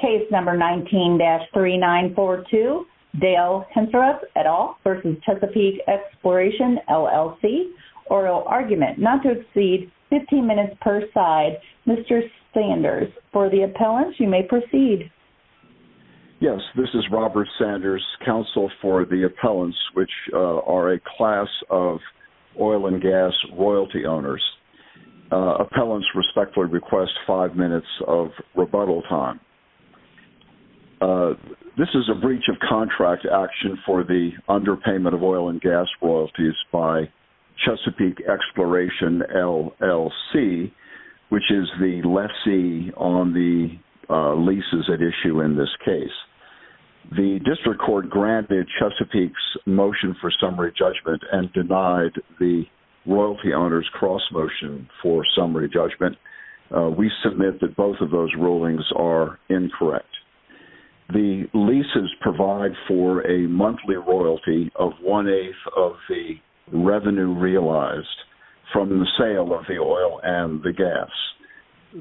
Case number 19-3942, Dale Henceroth et al. v. Chesapeake Exploration, LLC, Oral Argument. Not to exceed 15 minutes per side. Mr. Sanders, for the appellants, you may proceed. Yes, this is Robert Sanders, counsel for the appellants, which are a class of oil and gas royalty owners. Appellants respectfully request five minutes of rebuttal time. This is a breach of contract action for the underpayment of oil and gas royalties by Chesapeake Exploration, LLC, which is the lessee on the leases at issue in this case. The district court granted Chesapeake's motion for summary judgment and denied the royalty owners' cross-motion for summary judgment. We submit that both of those rulings are incorrect. The leases provide for a monthly royalty of one-eighth of the revenue realized from the sale of the oil and the gas.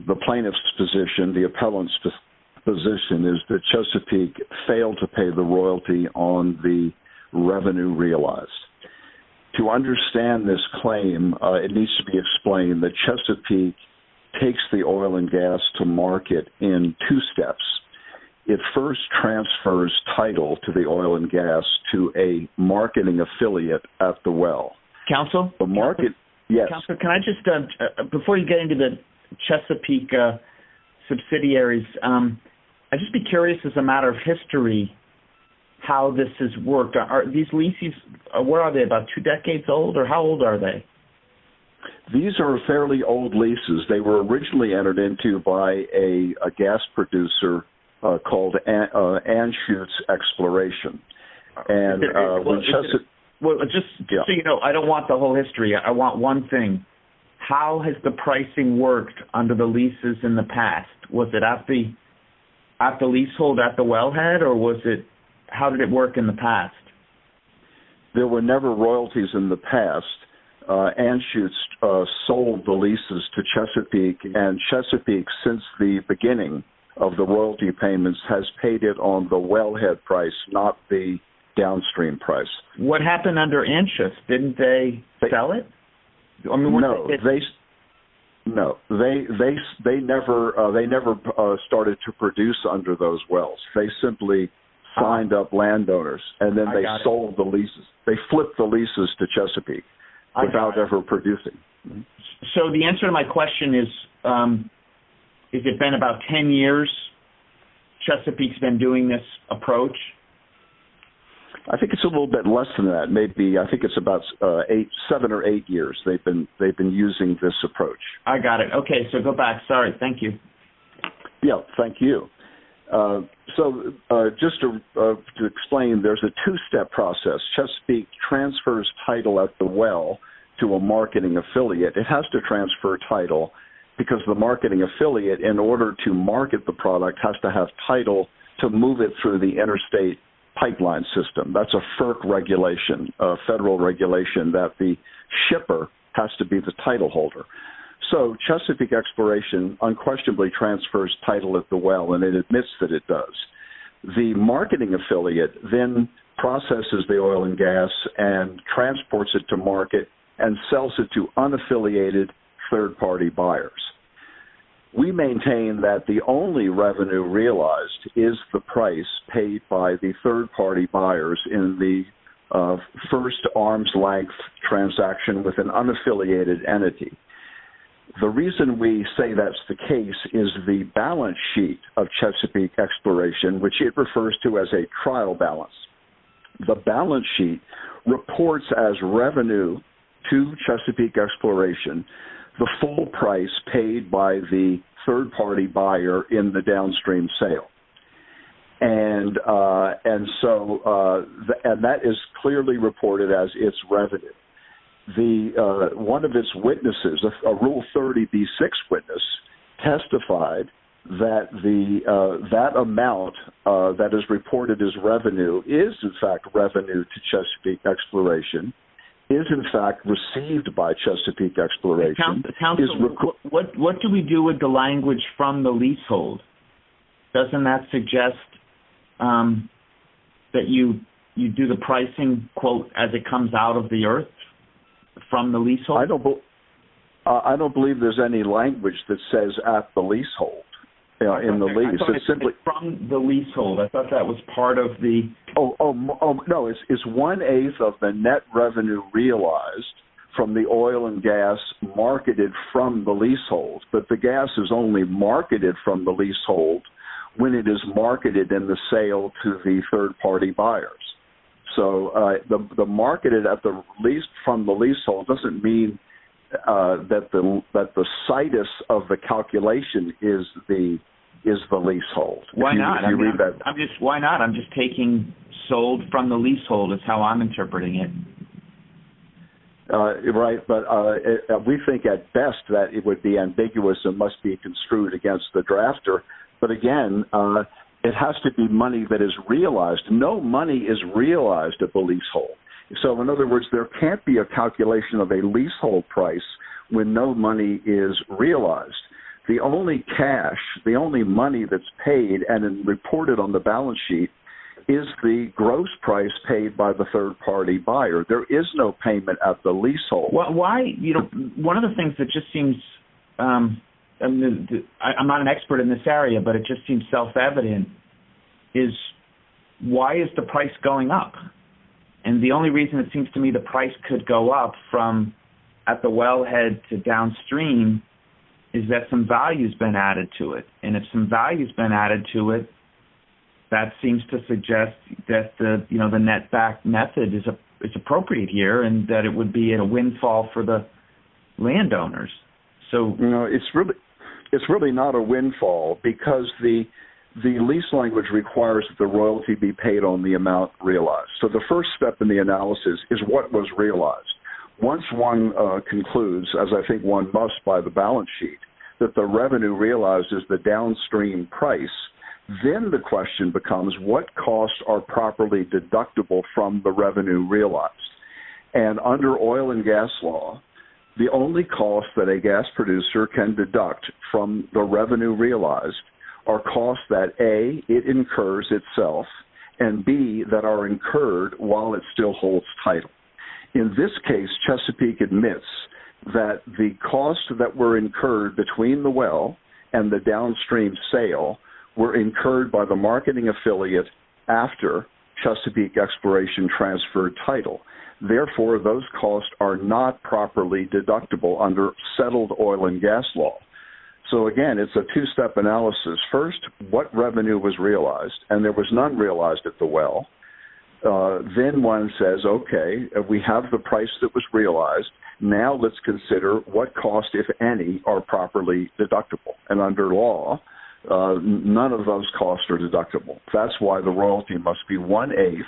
The plaintiff's position, the appellant's position, is that Chesapeake failed to pay the royalty on the revenue realized. To understand this claim, it needs to be explained that Chesapeake takes the oil and gas to market in two steps. It first transfers title to the oil and gas to a marketing affiliate at the well. Counsel? The market, yes. Counsel, can I just, before you get into the Chesapeake subsidiaries, I'd just be curious as a matter of history how this has worked. Are these leases, where are they, about two decades old, or how old are they? These are fairly old leases. They were originally entered into by a gas producer called Anschutz Exploration. Just so you know, I don't want the whole history. I want one thing. How has the pricing worked under the leases in the past? Was it at the leasehold at the wellhead, or how did it work in the past? There were never royalties in the past. Anschutz sold the leases to Chesapeake, and Chesapeake, since the beginning of the royalty payments, has paid it on the wellhead price, not the downstream price. What happened under Anschutz? Didn't they sell it? No, they never started to produce under those wells. They simply signed up landowners, and then they sold the leases. They flipped the leases to Chesapeake without ever producing. The answer to my question is, has it been about 10 years? Chesapeake's been doing this approach? I think it's a little bit less than that. I think it's about seven or eight years they've been using this approach. I got it. Okay, so go back. Sorry, thank you. Thank you. Just to explain, there's a two-step process. Chesapeake transfers title at the well to a marketing affiliate. It has to transfer title because the marketing affiliate, in order to market the product, has to have title to move it through the interstate pipeline system. That's a FERC regulation, a federal regulation, that the shipper has to be the title holder. So Chesapeake Exploration unquestionably transfers title at the well, and it admits that it does. The marketing affiliate then processes the oil and gas and transports it to market and sells it to unaffiliated third-party buyers. We maintain that the only revenue realized is the price paid by the third-party buyers in the first arms-length transaction with an unaffiliated entity. The reason we say that's the case is the balance sheet of Chesapeake Exploration, which it refers to as a trial balance. The balance sheet reports as revenue to Chesapeake Exploration the full price paid by the third-party buyer in the downstream sale. That is clearly reported as its revenue. One of its witnesses, a Rule 30b-6 witness, testified that that amount that is reported as revenue is in fact revenue to Chesapeake Exploration, is in fact received by Chesapeake Exploration. Councilman, what do we do with the language from the leasehold? Doesn't that suggest that you do the pricing, quote, as it comes out of the earth from the leasehold? I don't believe there's any language that says at the leasehold. I thought it said from the leasehold. I thought that was part of the... No, it's one-eighth of the net revenue realized from the oil and gas marketed from the leasehold. But the gas is only marketed from the leasehold when it is marketed in the sale to the third-party buyers. So the marketed from the leasehold doesn't mean that the situs of the calculation is the leasehold. Why not? I'm just taking sold from the leasehold is how I'm interpreting it. Right, but we think at best that it would be ambiguous and must be construed against the drafter. But again, it has to be money that is realized. No money is realized at the leasehold. So in other words, there can't be a calculation of a leasehold price when no money is realized. The only cash, the only money that's paid and reported on the balance sheet is the gross price paid by the third-party buyer. There is no payment at the leasehold. One of the things that just seems... I'm not an expert in this area, but it just seems self-evident, is why is the price going up? And the only reason it seems to me the price could go up from at the wellhead to downstream is that some value has been added to it. And if some value has been added to it, that seems to suggest that the net back method is appropriate here and that it would be a windfall for the landowners. It's really not a windfall because the lease language requires that the royalty be paid on the amount realized. So the first step in the analysis is what was realized. Once one concludes, as I think one must by the balance sheet, that the revenue realized is the downstream price, then the question becomes what costs are properly deductible from the revenue realized. And under oil and gas law, the only costs that a gas producer can deduct from the revenue realized are costs that A, it incurs itself, and B, that are incurred while it still holds title. In this case, Chesapeake admits that the costs that were incurred between the well and the downstream sale were incurred by the marketing affiliate after Chesapeake exploration transferred title. Therefore, those costs are not properly deductible under settled oil and gas law. So again, it's a two-step analysis. First, what revenue was realized, and there was none realized at the well. Then one says, okay, we have the price that was realized. Now let's consider what costs, if any, are properly deductible. And under law, none of those costs are deductible. That's why the royalty must be one-eighth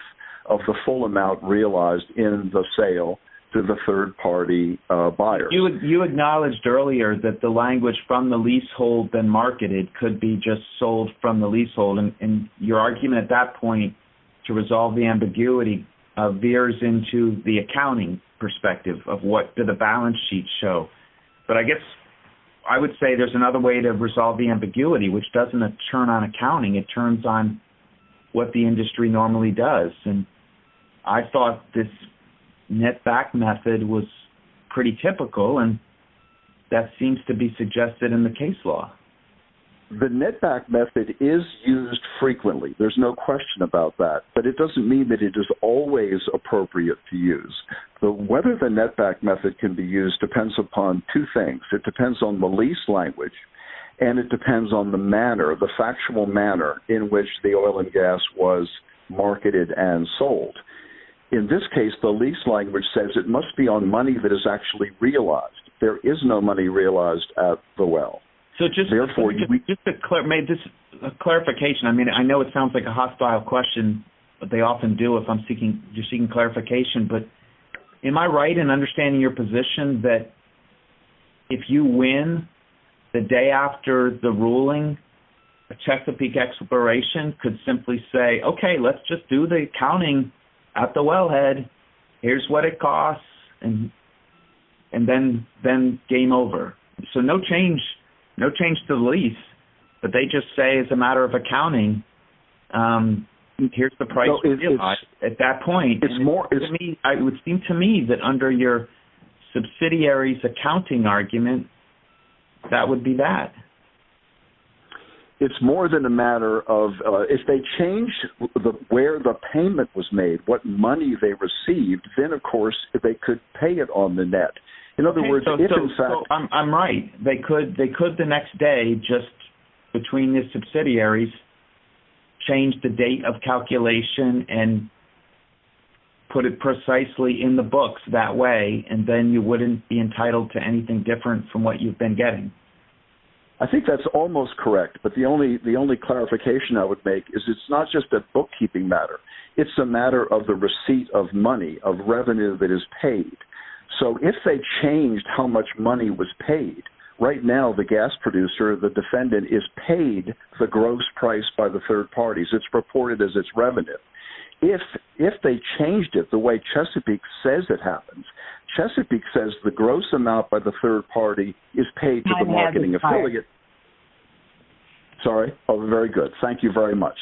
of the full amount realized in the sale to the third-party buyers. You acknowledged earlier that the language from the leasehold than marketed could be just sold from the leasehold, and your argument at that point to resolve the ambiguity veers into the accounting perspective of what did the balance sheet show. But I guess I would say there's another way to resolve the ambiguity, which doesn't turn on accounting. It turns on what the industry normally does. And I thought this net back method was pretty typical, and that seems to be suggested in the case law. The net back method is used frequently. There's no question about that, but it doesn't mean that it is always appropriate to use. Whether the net back method can be used depends upon two things. It depends on the lease language, and it depends on the manner, the factual manner, in which the oil and gas was marketed and sold. In this case, the lease language says it must be on money that is actually realized. There is no money realized at the well. Just a clarification. I know it sounds like a hostile question, but they often do if you're seeking clarification. But am I right in understanding your position that if you win the day after the ruling, a Chesapeake exploration could simply say, okay, let's just do the accounting at the wellhead. Here's what it costs, and then game over. So no change to the lease, but they just say it's a matter of accounting. Here's the price at that point. It would seem to me that under your subsidiary's accounting argument, that would be that. It's more than a matter of if they change where the payment was made, what money they received, then, of course, they could pay it on the net. I'm right. They could the next day, just between the subsidiaries, change the date of calculation and put it precisely in the books that way, and then you wouldn't be entitled to anything different from what you've been getting. I think that's almost correct. But the only clarification I would make is it's not just a bookkeeping matter. It's a matter of the receipt of money, of revenue that is paid. So if they changed how much money was paid, right now the gas producer, the defendant, is paid the gross price by the third parties. It's reported as its revenue. If they changed it the way Chesapeake says it happens, Chesapeake says the gross amount by the third party is paid to the marketing affiliate. I'm having trouble. Sorry? Oh, very good. Thank you very much.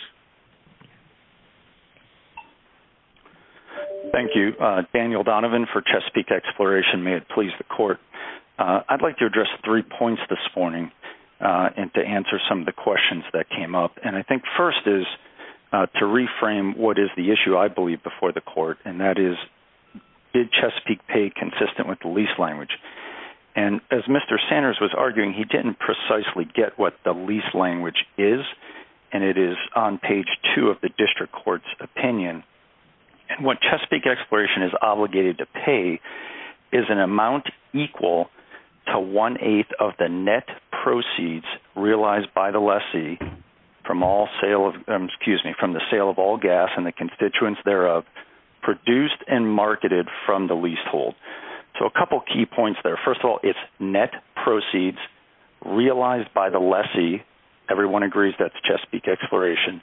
Thank you. Daniel Donovan for Chesapeake Exploration. May it please the court. I'd like to address three points this morning and to answer some of the questions that came up. And I think first is to reframe what is the issue, I believe, before the court, and that is did Chesapeake pay consistent with the lease language? And as Mr. Sanders was arguing, he didn't precisely get what the lease language is, and it is on page two of the district court's opinion. And what Chesapeake Exploration is obligated to pay is an amount equal to one-eighth of the net proceeds realized by the lessee from the sale of all gas and the constituents thereof produced and marketed from the leasehold. So a couple key points there. First of all, it's net proceeds realized by the lessee. Everyone agrees that the Chesapeake Exploration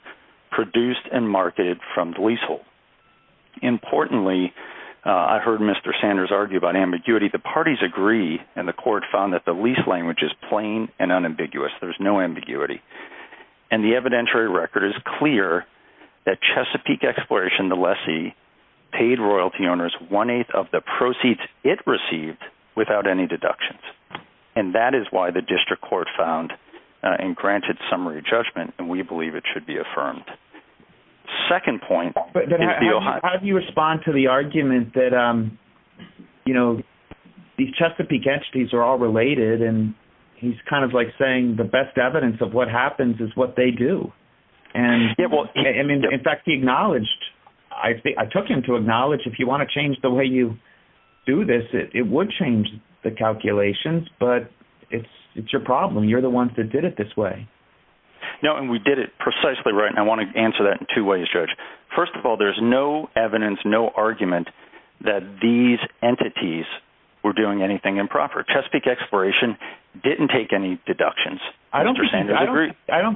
produced and marketed from the leasehold. Importantly, I heard Mr. Sanders argue about ambiguity. The parties agree, and the court found that the lease language is plain and unambiguous. There's no ambiguity. And the evidentiary record is clear that Chesapeake Exploration, the lessee, paid royalty owners one-eighth of the proceeds it received without any deductions. And that is why the district court found and granted summary judgment, and we believe it should be affirmed. Second point. How do you respond to the argument that, you know, these Chesapeake entities are all related, and he's kind of like saying the best evidence of what happens is what they do. And, in fact, he acknowledged. I took him to acknowledge if you want to change the way you do this, it would change the calculations, but it's your problem. You're the ones that did it this way. No, and we did it precisely right, and I want to answer that in two ways, Judge. First of all, there's no evidence, no argument that these entities were doing anything improper. Chesapeake Exploration didn't take any deductions. I don't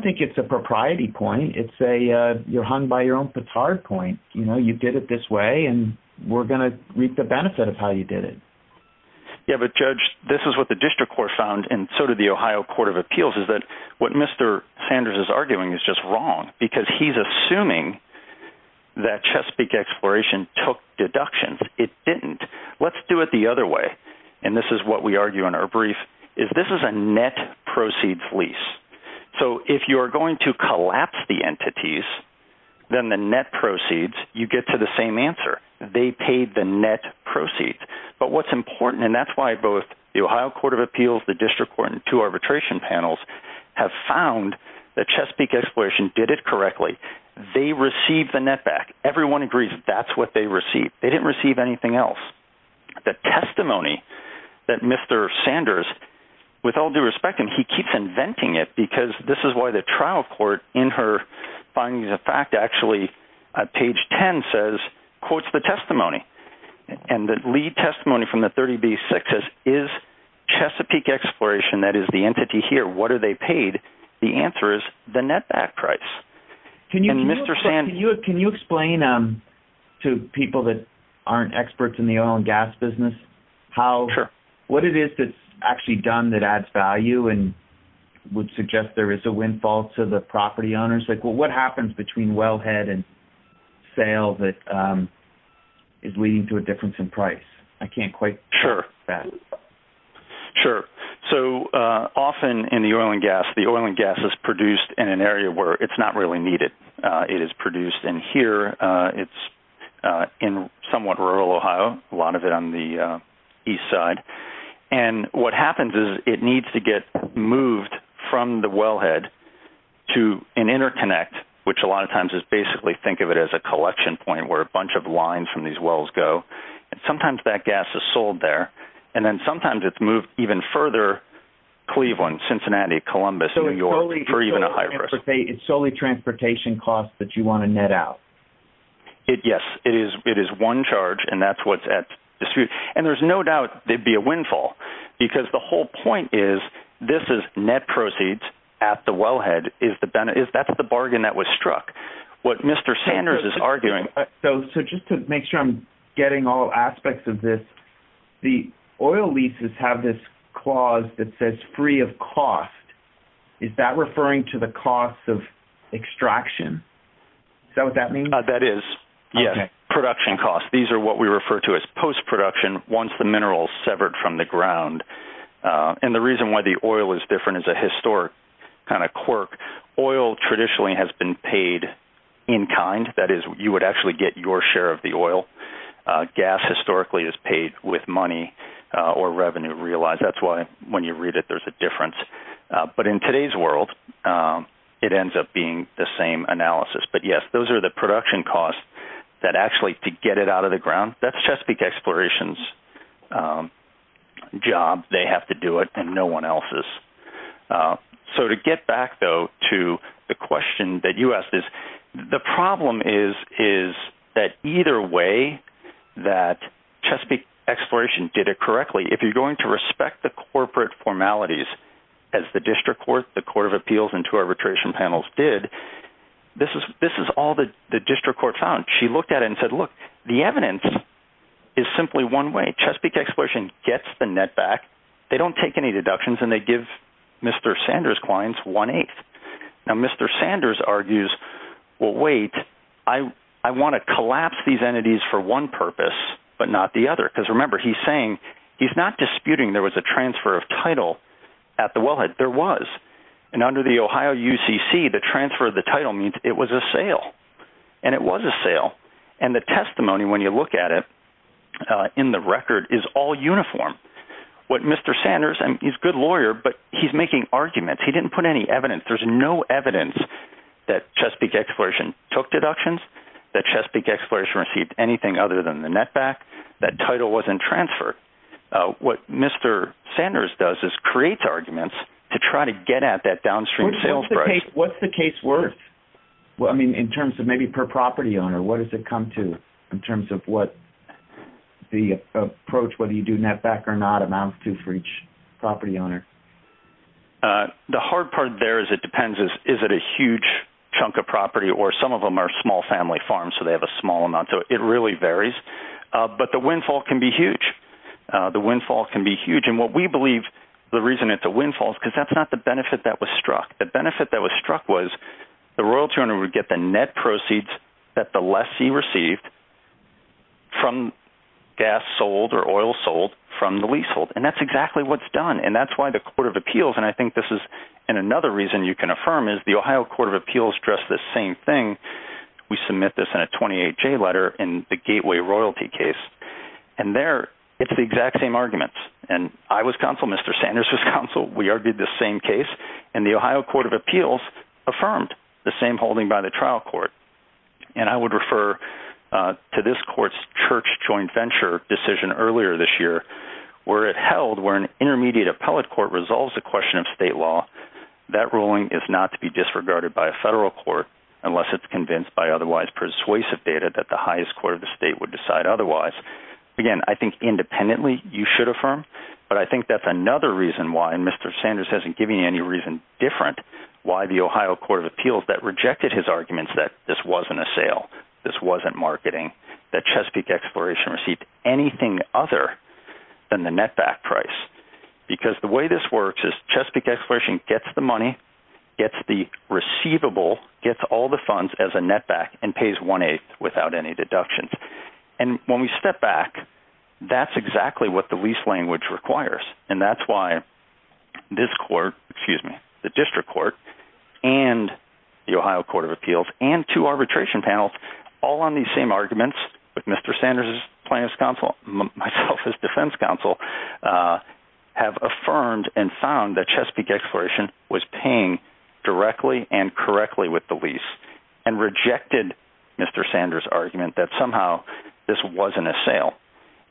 think it's a propriety point. It's a you're hung by your own petard point. You know, you did it this way, and we're going to reap the benefit of how you did it. Yeah, but, Judge, this is what the district court found, and so did the Ohio Court of Appeals, is that what Mr. Sanders is arguing is just wrong because he's assuming that Chesapeake Exploration took deductions. It didn't. Let's do it the other way, and this is what we argue in our brief, is this is a net proceeds lease. So if you're going to collapse the entities, then the net proceeds, you get to the same answer. They paid the net proceeds, but what's important, and that's why both the Ohio Court of Appeals, the district court, and two arbitration panels have found that Chesapeake Exploration did it correctly. They received the net back. Everyone agrees that that's what they received. They didn't receive anything else. The testimony that Mr. Sanders, with all due respect, and he keeps inventing it because this is why the trial court, in her findings of fact, actually, page 10 says, quotes the testimony, and the lead testimony from the 30B6 says, is Chesapeake Exploration, that is the entity here, what are they paid? The answer is the net back price. Can you explain to people that aren't experts in the oil and gas business what it is that's actually done that adds value and would suggest there is a windfall to the property owners? Like what happens between wellhead and sale that is leading to a difference in price? I can't quite grasp that. Sure. So often in the oil and gas, the oil and gas is produced in an area where it's not really needed. It is produced in here. It's in somewhat rural Ohio, a lot of it on the east side. And what happens is it needs to get moved from the wellhead to an interconnect, which a lot of times is basically think of it as a collection point where a bunch of lines from these wells go. Sometimes that gas is sold there. And then sometimes it's moved even further, Cleveland, Cincinnati, Columbus, New York, for even a high risk. So it's solely transportation costs that you want to net out? Yes. It is one charge, and that's what's at dispute. And there's no doubt there would be a windfall because the whole point is this is net proceeds at the wellhead. That's the bargain that was struck. What Mr. Sanders is arguing – So just to make sure I'm getting all aspects of this, the oil leases have this clause that says free of cost. Is that referring to the cost of extraction? Is that what that means? That is, yes, production costs. These are what we refer to as post-production, once the mineral is severed from the ground. And the reason why the oil is different is a historic kind of quirk. Oil traditionally has been paid in kind. That is, you would actually get your share of the oil. Gas historically is paid with money or revenue realized. That's why when you read it, there's a difference. But in today's world, it ends up being the same analysis. But, yes, those are the production costs that actually to get it out of the ground, that's Chesapeake Exploration's job. They have to do it, and no one else's. So to get back, though, to the question that you asked, the problem is that either way that Chesapeake Exploration did it correctly, if you're going to respect the corporate formalities as the District Court, the Court of Appeals, and two arbitration panels did, this is all the District Court found. She looked at it and said, look, the evidence is simply one way. They don't take any deductions, and they give Mr. Sanders' clients one-eighth. Now, Mr. Sanders argues, well, wait, I want to collapse these entities for one purpose but not the other. Because remember, he's saying he's not disputing there was a transfer of title at the wellhead. There was. And under the Ohio UCC, the transfer of the title means it was a sale. And it was a sale. And the testimony, when you look at it in the record, is all uniform. What Mr. Sanders, and he's a good lawyer, but he's making arguments. He didn't put any evidence. There's no evidence that Chesapeake Exploration took deductions, that Chesapeake Exploration received anything other than the net back, that title wasn't transferred. What Mr. Sanders does is creates arguments to try to get at that downstream sales price. What's the case worth? Well, I mean, in terms of maybe per property owner, what does it come to in terms of what the approach, whether you do net back or not, amounts to for each property owner? The hard part there is it depends is it a huge chunk of property, or some of them are small family farms, so they have a small amount. So it really varies. But the windfall can be huge. The windfall can be huge. And what we believe the reason it's a windfall is because that's not the benefit that was struck. The benefit that was struck was the royalty owner would get the net proceeds that the lessee received from gas sold or oil sold from the leasehold. And that's exactly what's done. And that's why the Court of Appeals, and I think this is another reason you can affirm, is the Ohio Court of Appeals addressed the same thing. We submit this in a 28-J letter in the Gateway Royalty case. And there it's the exact same arguments. And I was counsel. Mr. Sanders was counsel. We argued the same case. And the Ohio Court of Appeals affirmed the same holding by the trial court. And I would refer to this court's church joint venture decision earlier this year where it held where an intermediate appellate court resolves a question of state law. That ruling is not to be disregarded by a federal court unless it's convinced by otherwise persuasive data that the highest court of the state would decide otherwise. Again, I think independently you should affirm. But I think that's another reason why, and Mr. Sanders hasn't given you any reason different, why the Ohio Court of Appeals that rejected his arguments that this wasn't a sale, this wasn't marketing, that Chesapeake Exploration received anything other than the net back price. Because the way this works is Chesapeake Exploration gets the money, gets the receivable, gets all the funds as a net back, and pays one-eighth without any deductions. And when we step back, that's exactly what the lease language requires. And that's why this court, excuse me, the district court, and the Ohio Court of Appeals, and two arbitration panels all on these same arguments with Mr. Sanders' defense counsel have affirmed and found that Chesapeake Exploration was paying directly and correctly with the lease and rejected Mr. Sanders' argument that somehow this wasn't a sale.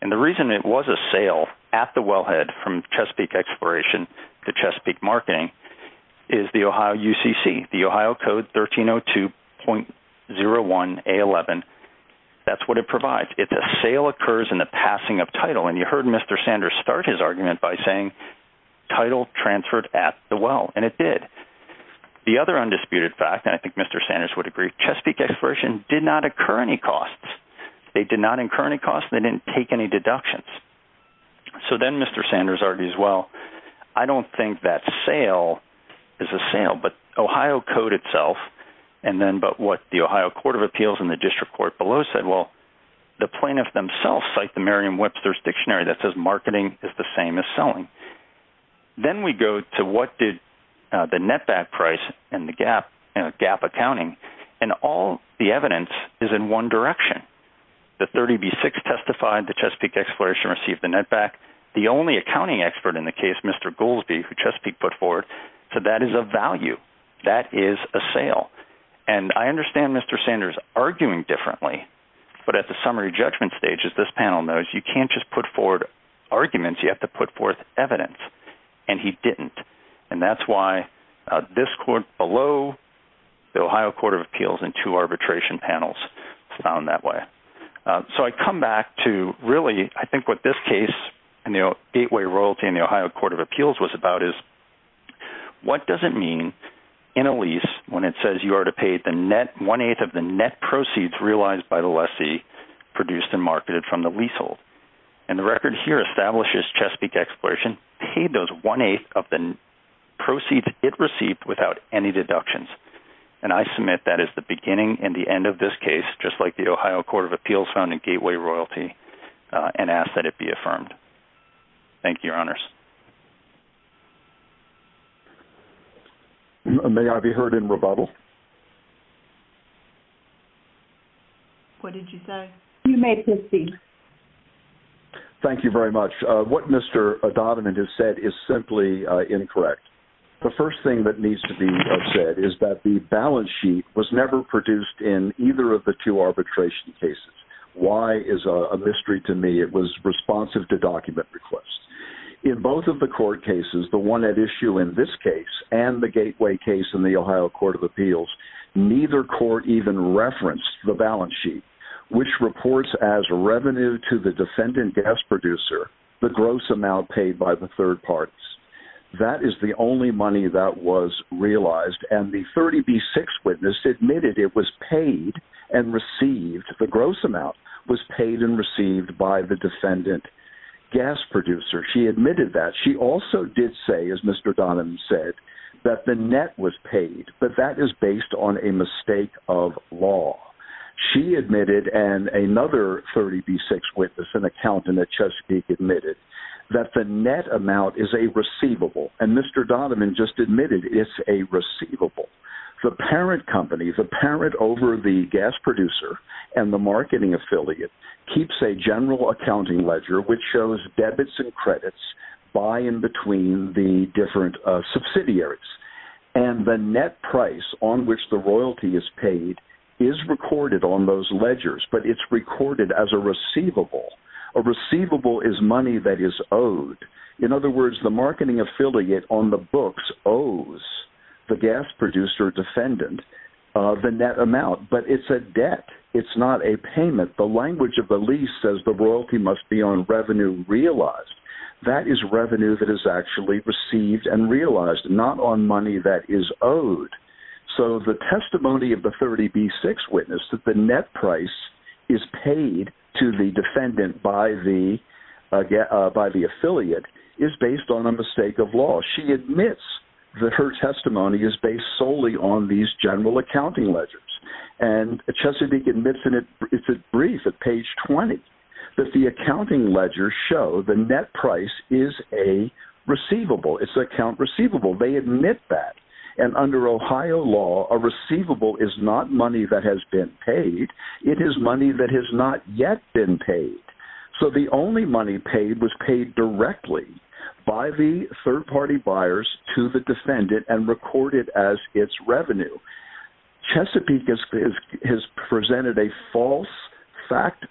And the reason it was a sale at the wellhead from Chesapeake Exploration to Chesapeake Marketing is the Ohio UCC, the Ohio Code 1302.01A11. That's what it provides. If a sale occurs in the passing of title, and you heard Mr. Sanders start his argument by saying title transferred at the well, and it did. The other undisputed fact, and I think Mr. Sanders would agree, Chesapeake Exploration did not incur any costs. They did not incur any costs. They didn't take any deductions. So then Mr. Sanders argues, well, I don't think that sale is a sale. But Ohio Code itself, and then what the Ohio Court of Appeals and the district court below said, well, the plaintiffs themselves cite the Merriam-Webster's Dictionary that says marketing is the same as selling. Then we go to what did the net back price and the gap accounting, and all the evidence is in one direction. The 30B6 testified that Chesapeake Exploration received the net back. The only accounting expert in the case, Mr. Goolsby, who Chesapeake put forward, said that is a value. That is a sale. And I understand Mr. Sanders arguing differently, but at the summary judgment stage, as this panel knows, you can't just put forward arguments. You have to put forth evidence, and he didn't. And that's why this court below the Ohio Court of Appeals and two arbitration panels found that way. So I come back to really, I think what this case, Gateway Royalty and the Ohio Court of Appeals was about is what does it mean in a lease when it says you are to pay one-eighth of the net proceeds realized by the lessee produced and marketed from the leasehold? And the record here establishes Chesapeake Exploration paid those one-eighth of the proceeds it received without any deductions. And I submit that is the beginning and the end of this case, just like the Ohio Court of Appeals found in Gateway Royalty, and ask that it be affirmed. Thank you, Your Honors. May I be heard in rebuttal? What did you say? You may proceed. Thank you very much. What Mr. Donovan has said is simply incorrect. The first thing that needs to be said is that the balance sheet was never produced in either of the two arbitration cases. Why is a mystery to me. It was responsive to document requests. In both of the court cases, the one at issue in this case and the Gateway case in the Ohio Court of Appeals, neither court even referenced the balance sheet, which reports as revenue to the defendant gas producer the gross amount paid by the third parties. That is the only money that was realized. And the 30B6 witness admitted it was paid and received. The gross amount was paid and received by the defendant gas producer. She admitted that. She also did say, as Mr. Donovan said, that the net was paid, but that is based on a mistake of law. She admitted and another 30B6 witness, an accountant at Chesapeake, admitted that the net amount is a receivable. And Mr. Donovan just admitted it's a receivable. The parent company, the parent over the gas producer and the marketing affiliate keeps a general accounting ledger, which shows debits and credits by and between the different subsidiaries. And the net price on which the royalty is paid is recorded on those ledgers, but it's recorded as a receivable. A receivable is money that is owed. In other words, the marketing affiliate on the books owes the gas producer defendant the net amount, but it's a debt. It's not a payment. The language of the lease says the royalty must be on revenue realized. That is revenue that is actually received and realized, not on money that is owed. So the testimony of the 30B6 witness that the net price is paid to the defendant by the affiliate is based on a mistake of law. She admits that her testimony is based solely on these general accounting ledgers. And Chesapeake admits in a brief at page 20 that the accounting ledgers show the net price is a receivable. It's an account receivable. They admit that. And under Ohio law, a receivable is not money that has been paid. It is money that has not yet been paid. So the only money paid was paid directly by the third-party buyers to the defendant and recorded as its revenue. Chesapeake has presented a false fact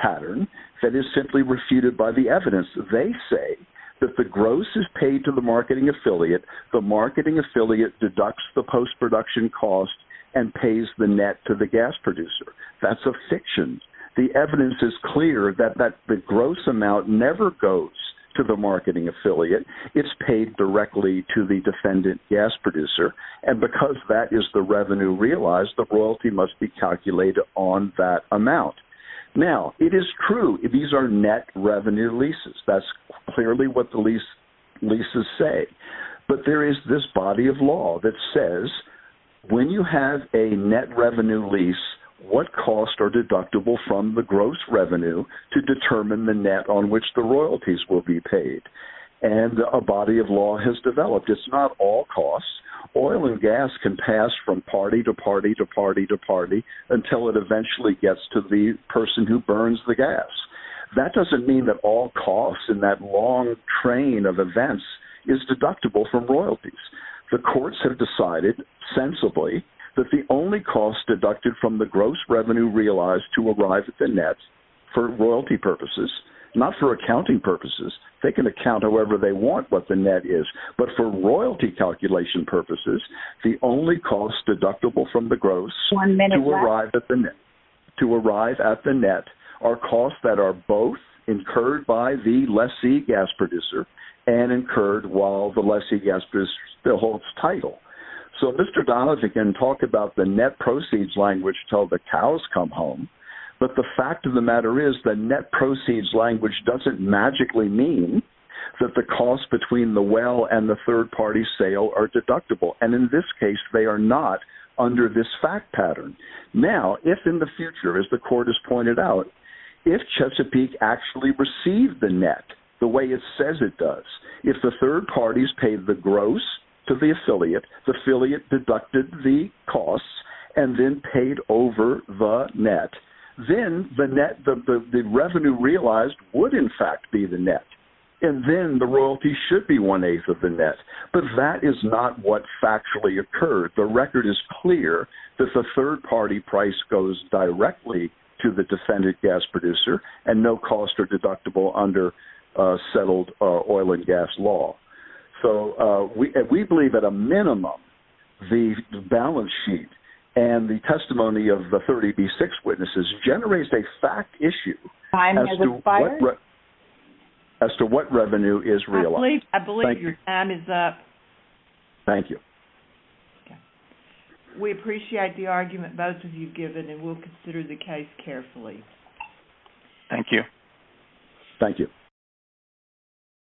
pattern that is simply refuted by the evidence. They say that the gross is paid to the marketing affiliate. The marketing affiliate deducts the post-production cost and pays the net to the gas producer. That's a fiction. The evidence is clear that the gross amount never goes to the marketing affiliate. It's paid directly to the defendant gas producer. And because that is the revenue realized, the royalty must be calculated on that amount. Now, it is true these are net revenue leases. That's clearly what the leases say. But there is this body of law that says when you have a net revenue lease, what costs are deductible from the gross revenue to determine the net on which the royalties will be paid? And a body of law has developed. It's not all costs. Oil and gas can pass from party to party to party to party until it eventually gets to the person who burns the gas. That doesn't mean that all costs in that long train of events is deductible from royalties. The courts have decided sensibly that the only cost deducted from the gross revenue realized to arrive at the net for royalty purposes, not for accounting purposes, they can account however they want what the net is, but for royalty calculation purposes, the only cost deductible from the gross to arrive at the net are costs that are both incurred by the lessee gas producer and incurred while the lessee gas producer still holds title. So Mr. Donovan can talk about the net proceeds language until the cows come home, but the fact of the matter is the net proceeds language doesn't magically mean that the cost between the well and the third party sale are deductible. And in this case, they are not under this fact pattern. Now, if in the future, as the court has pointed out, if Chesapeake actually received the net the way it says it does, if the third parties paid the gross to the affiliate, the affiliate deducted the costs and then paid over the net, then the net, the revenue realized would in fact be the net. And then the royalty should be one-eighth of the net. But that is not what factually occurred. The record is clear that the third party price goes directly to the defendant gas producer and no cost are deductible under settled oil and gas law. So we believe at a minimum the balance sheet and the testimony of the 30B6 witnesses generates a fact issue as to what revenue is realized. I believe your time is up. Thank you. We appreciate the argument both of you have given and we will consider the case carefully. Thank you. Thank you.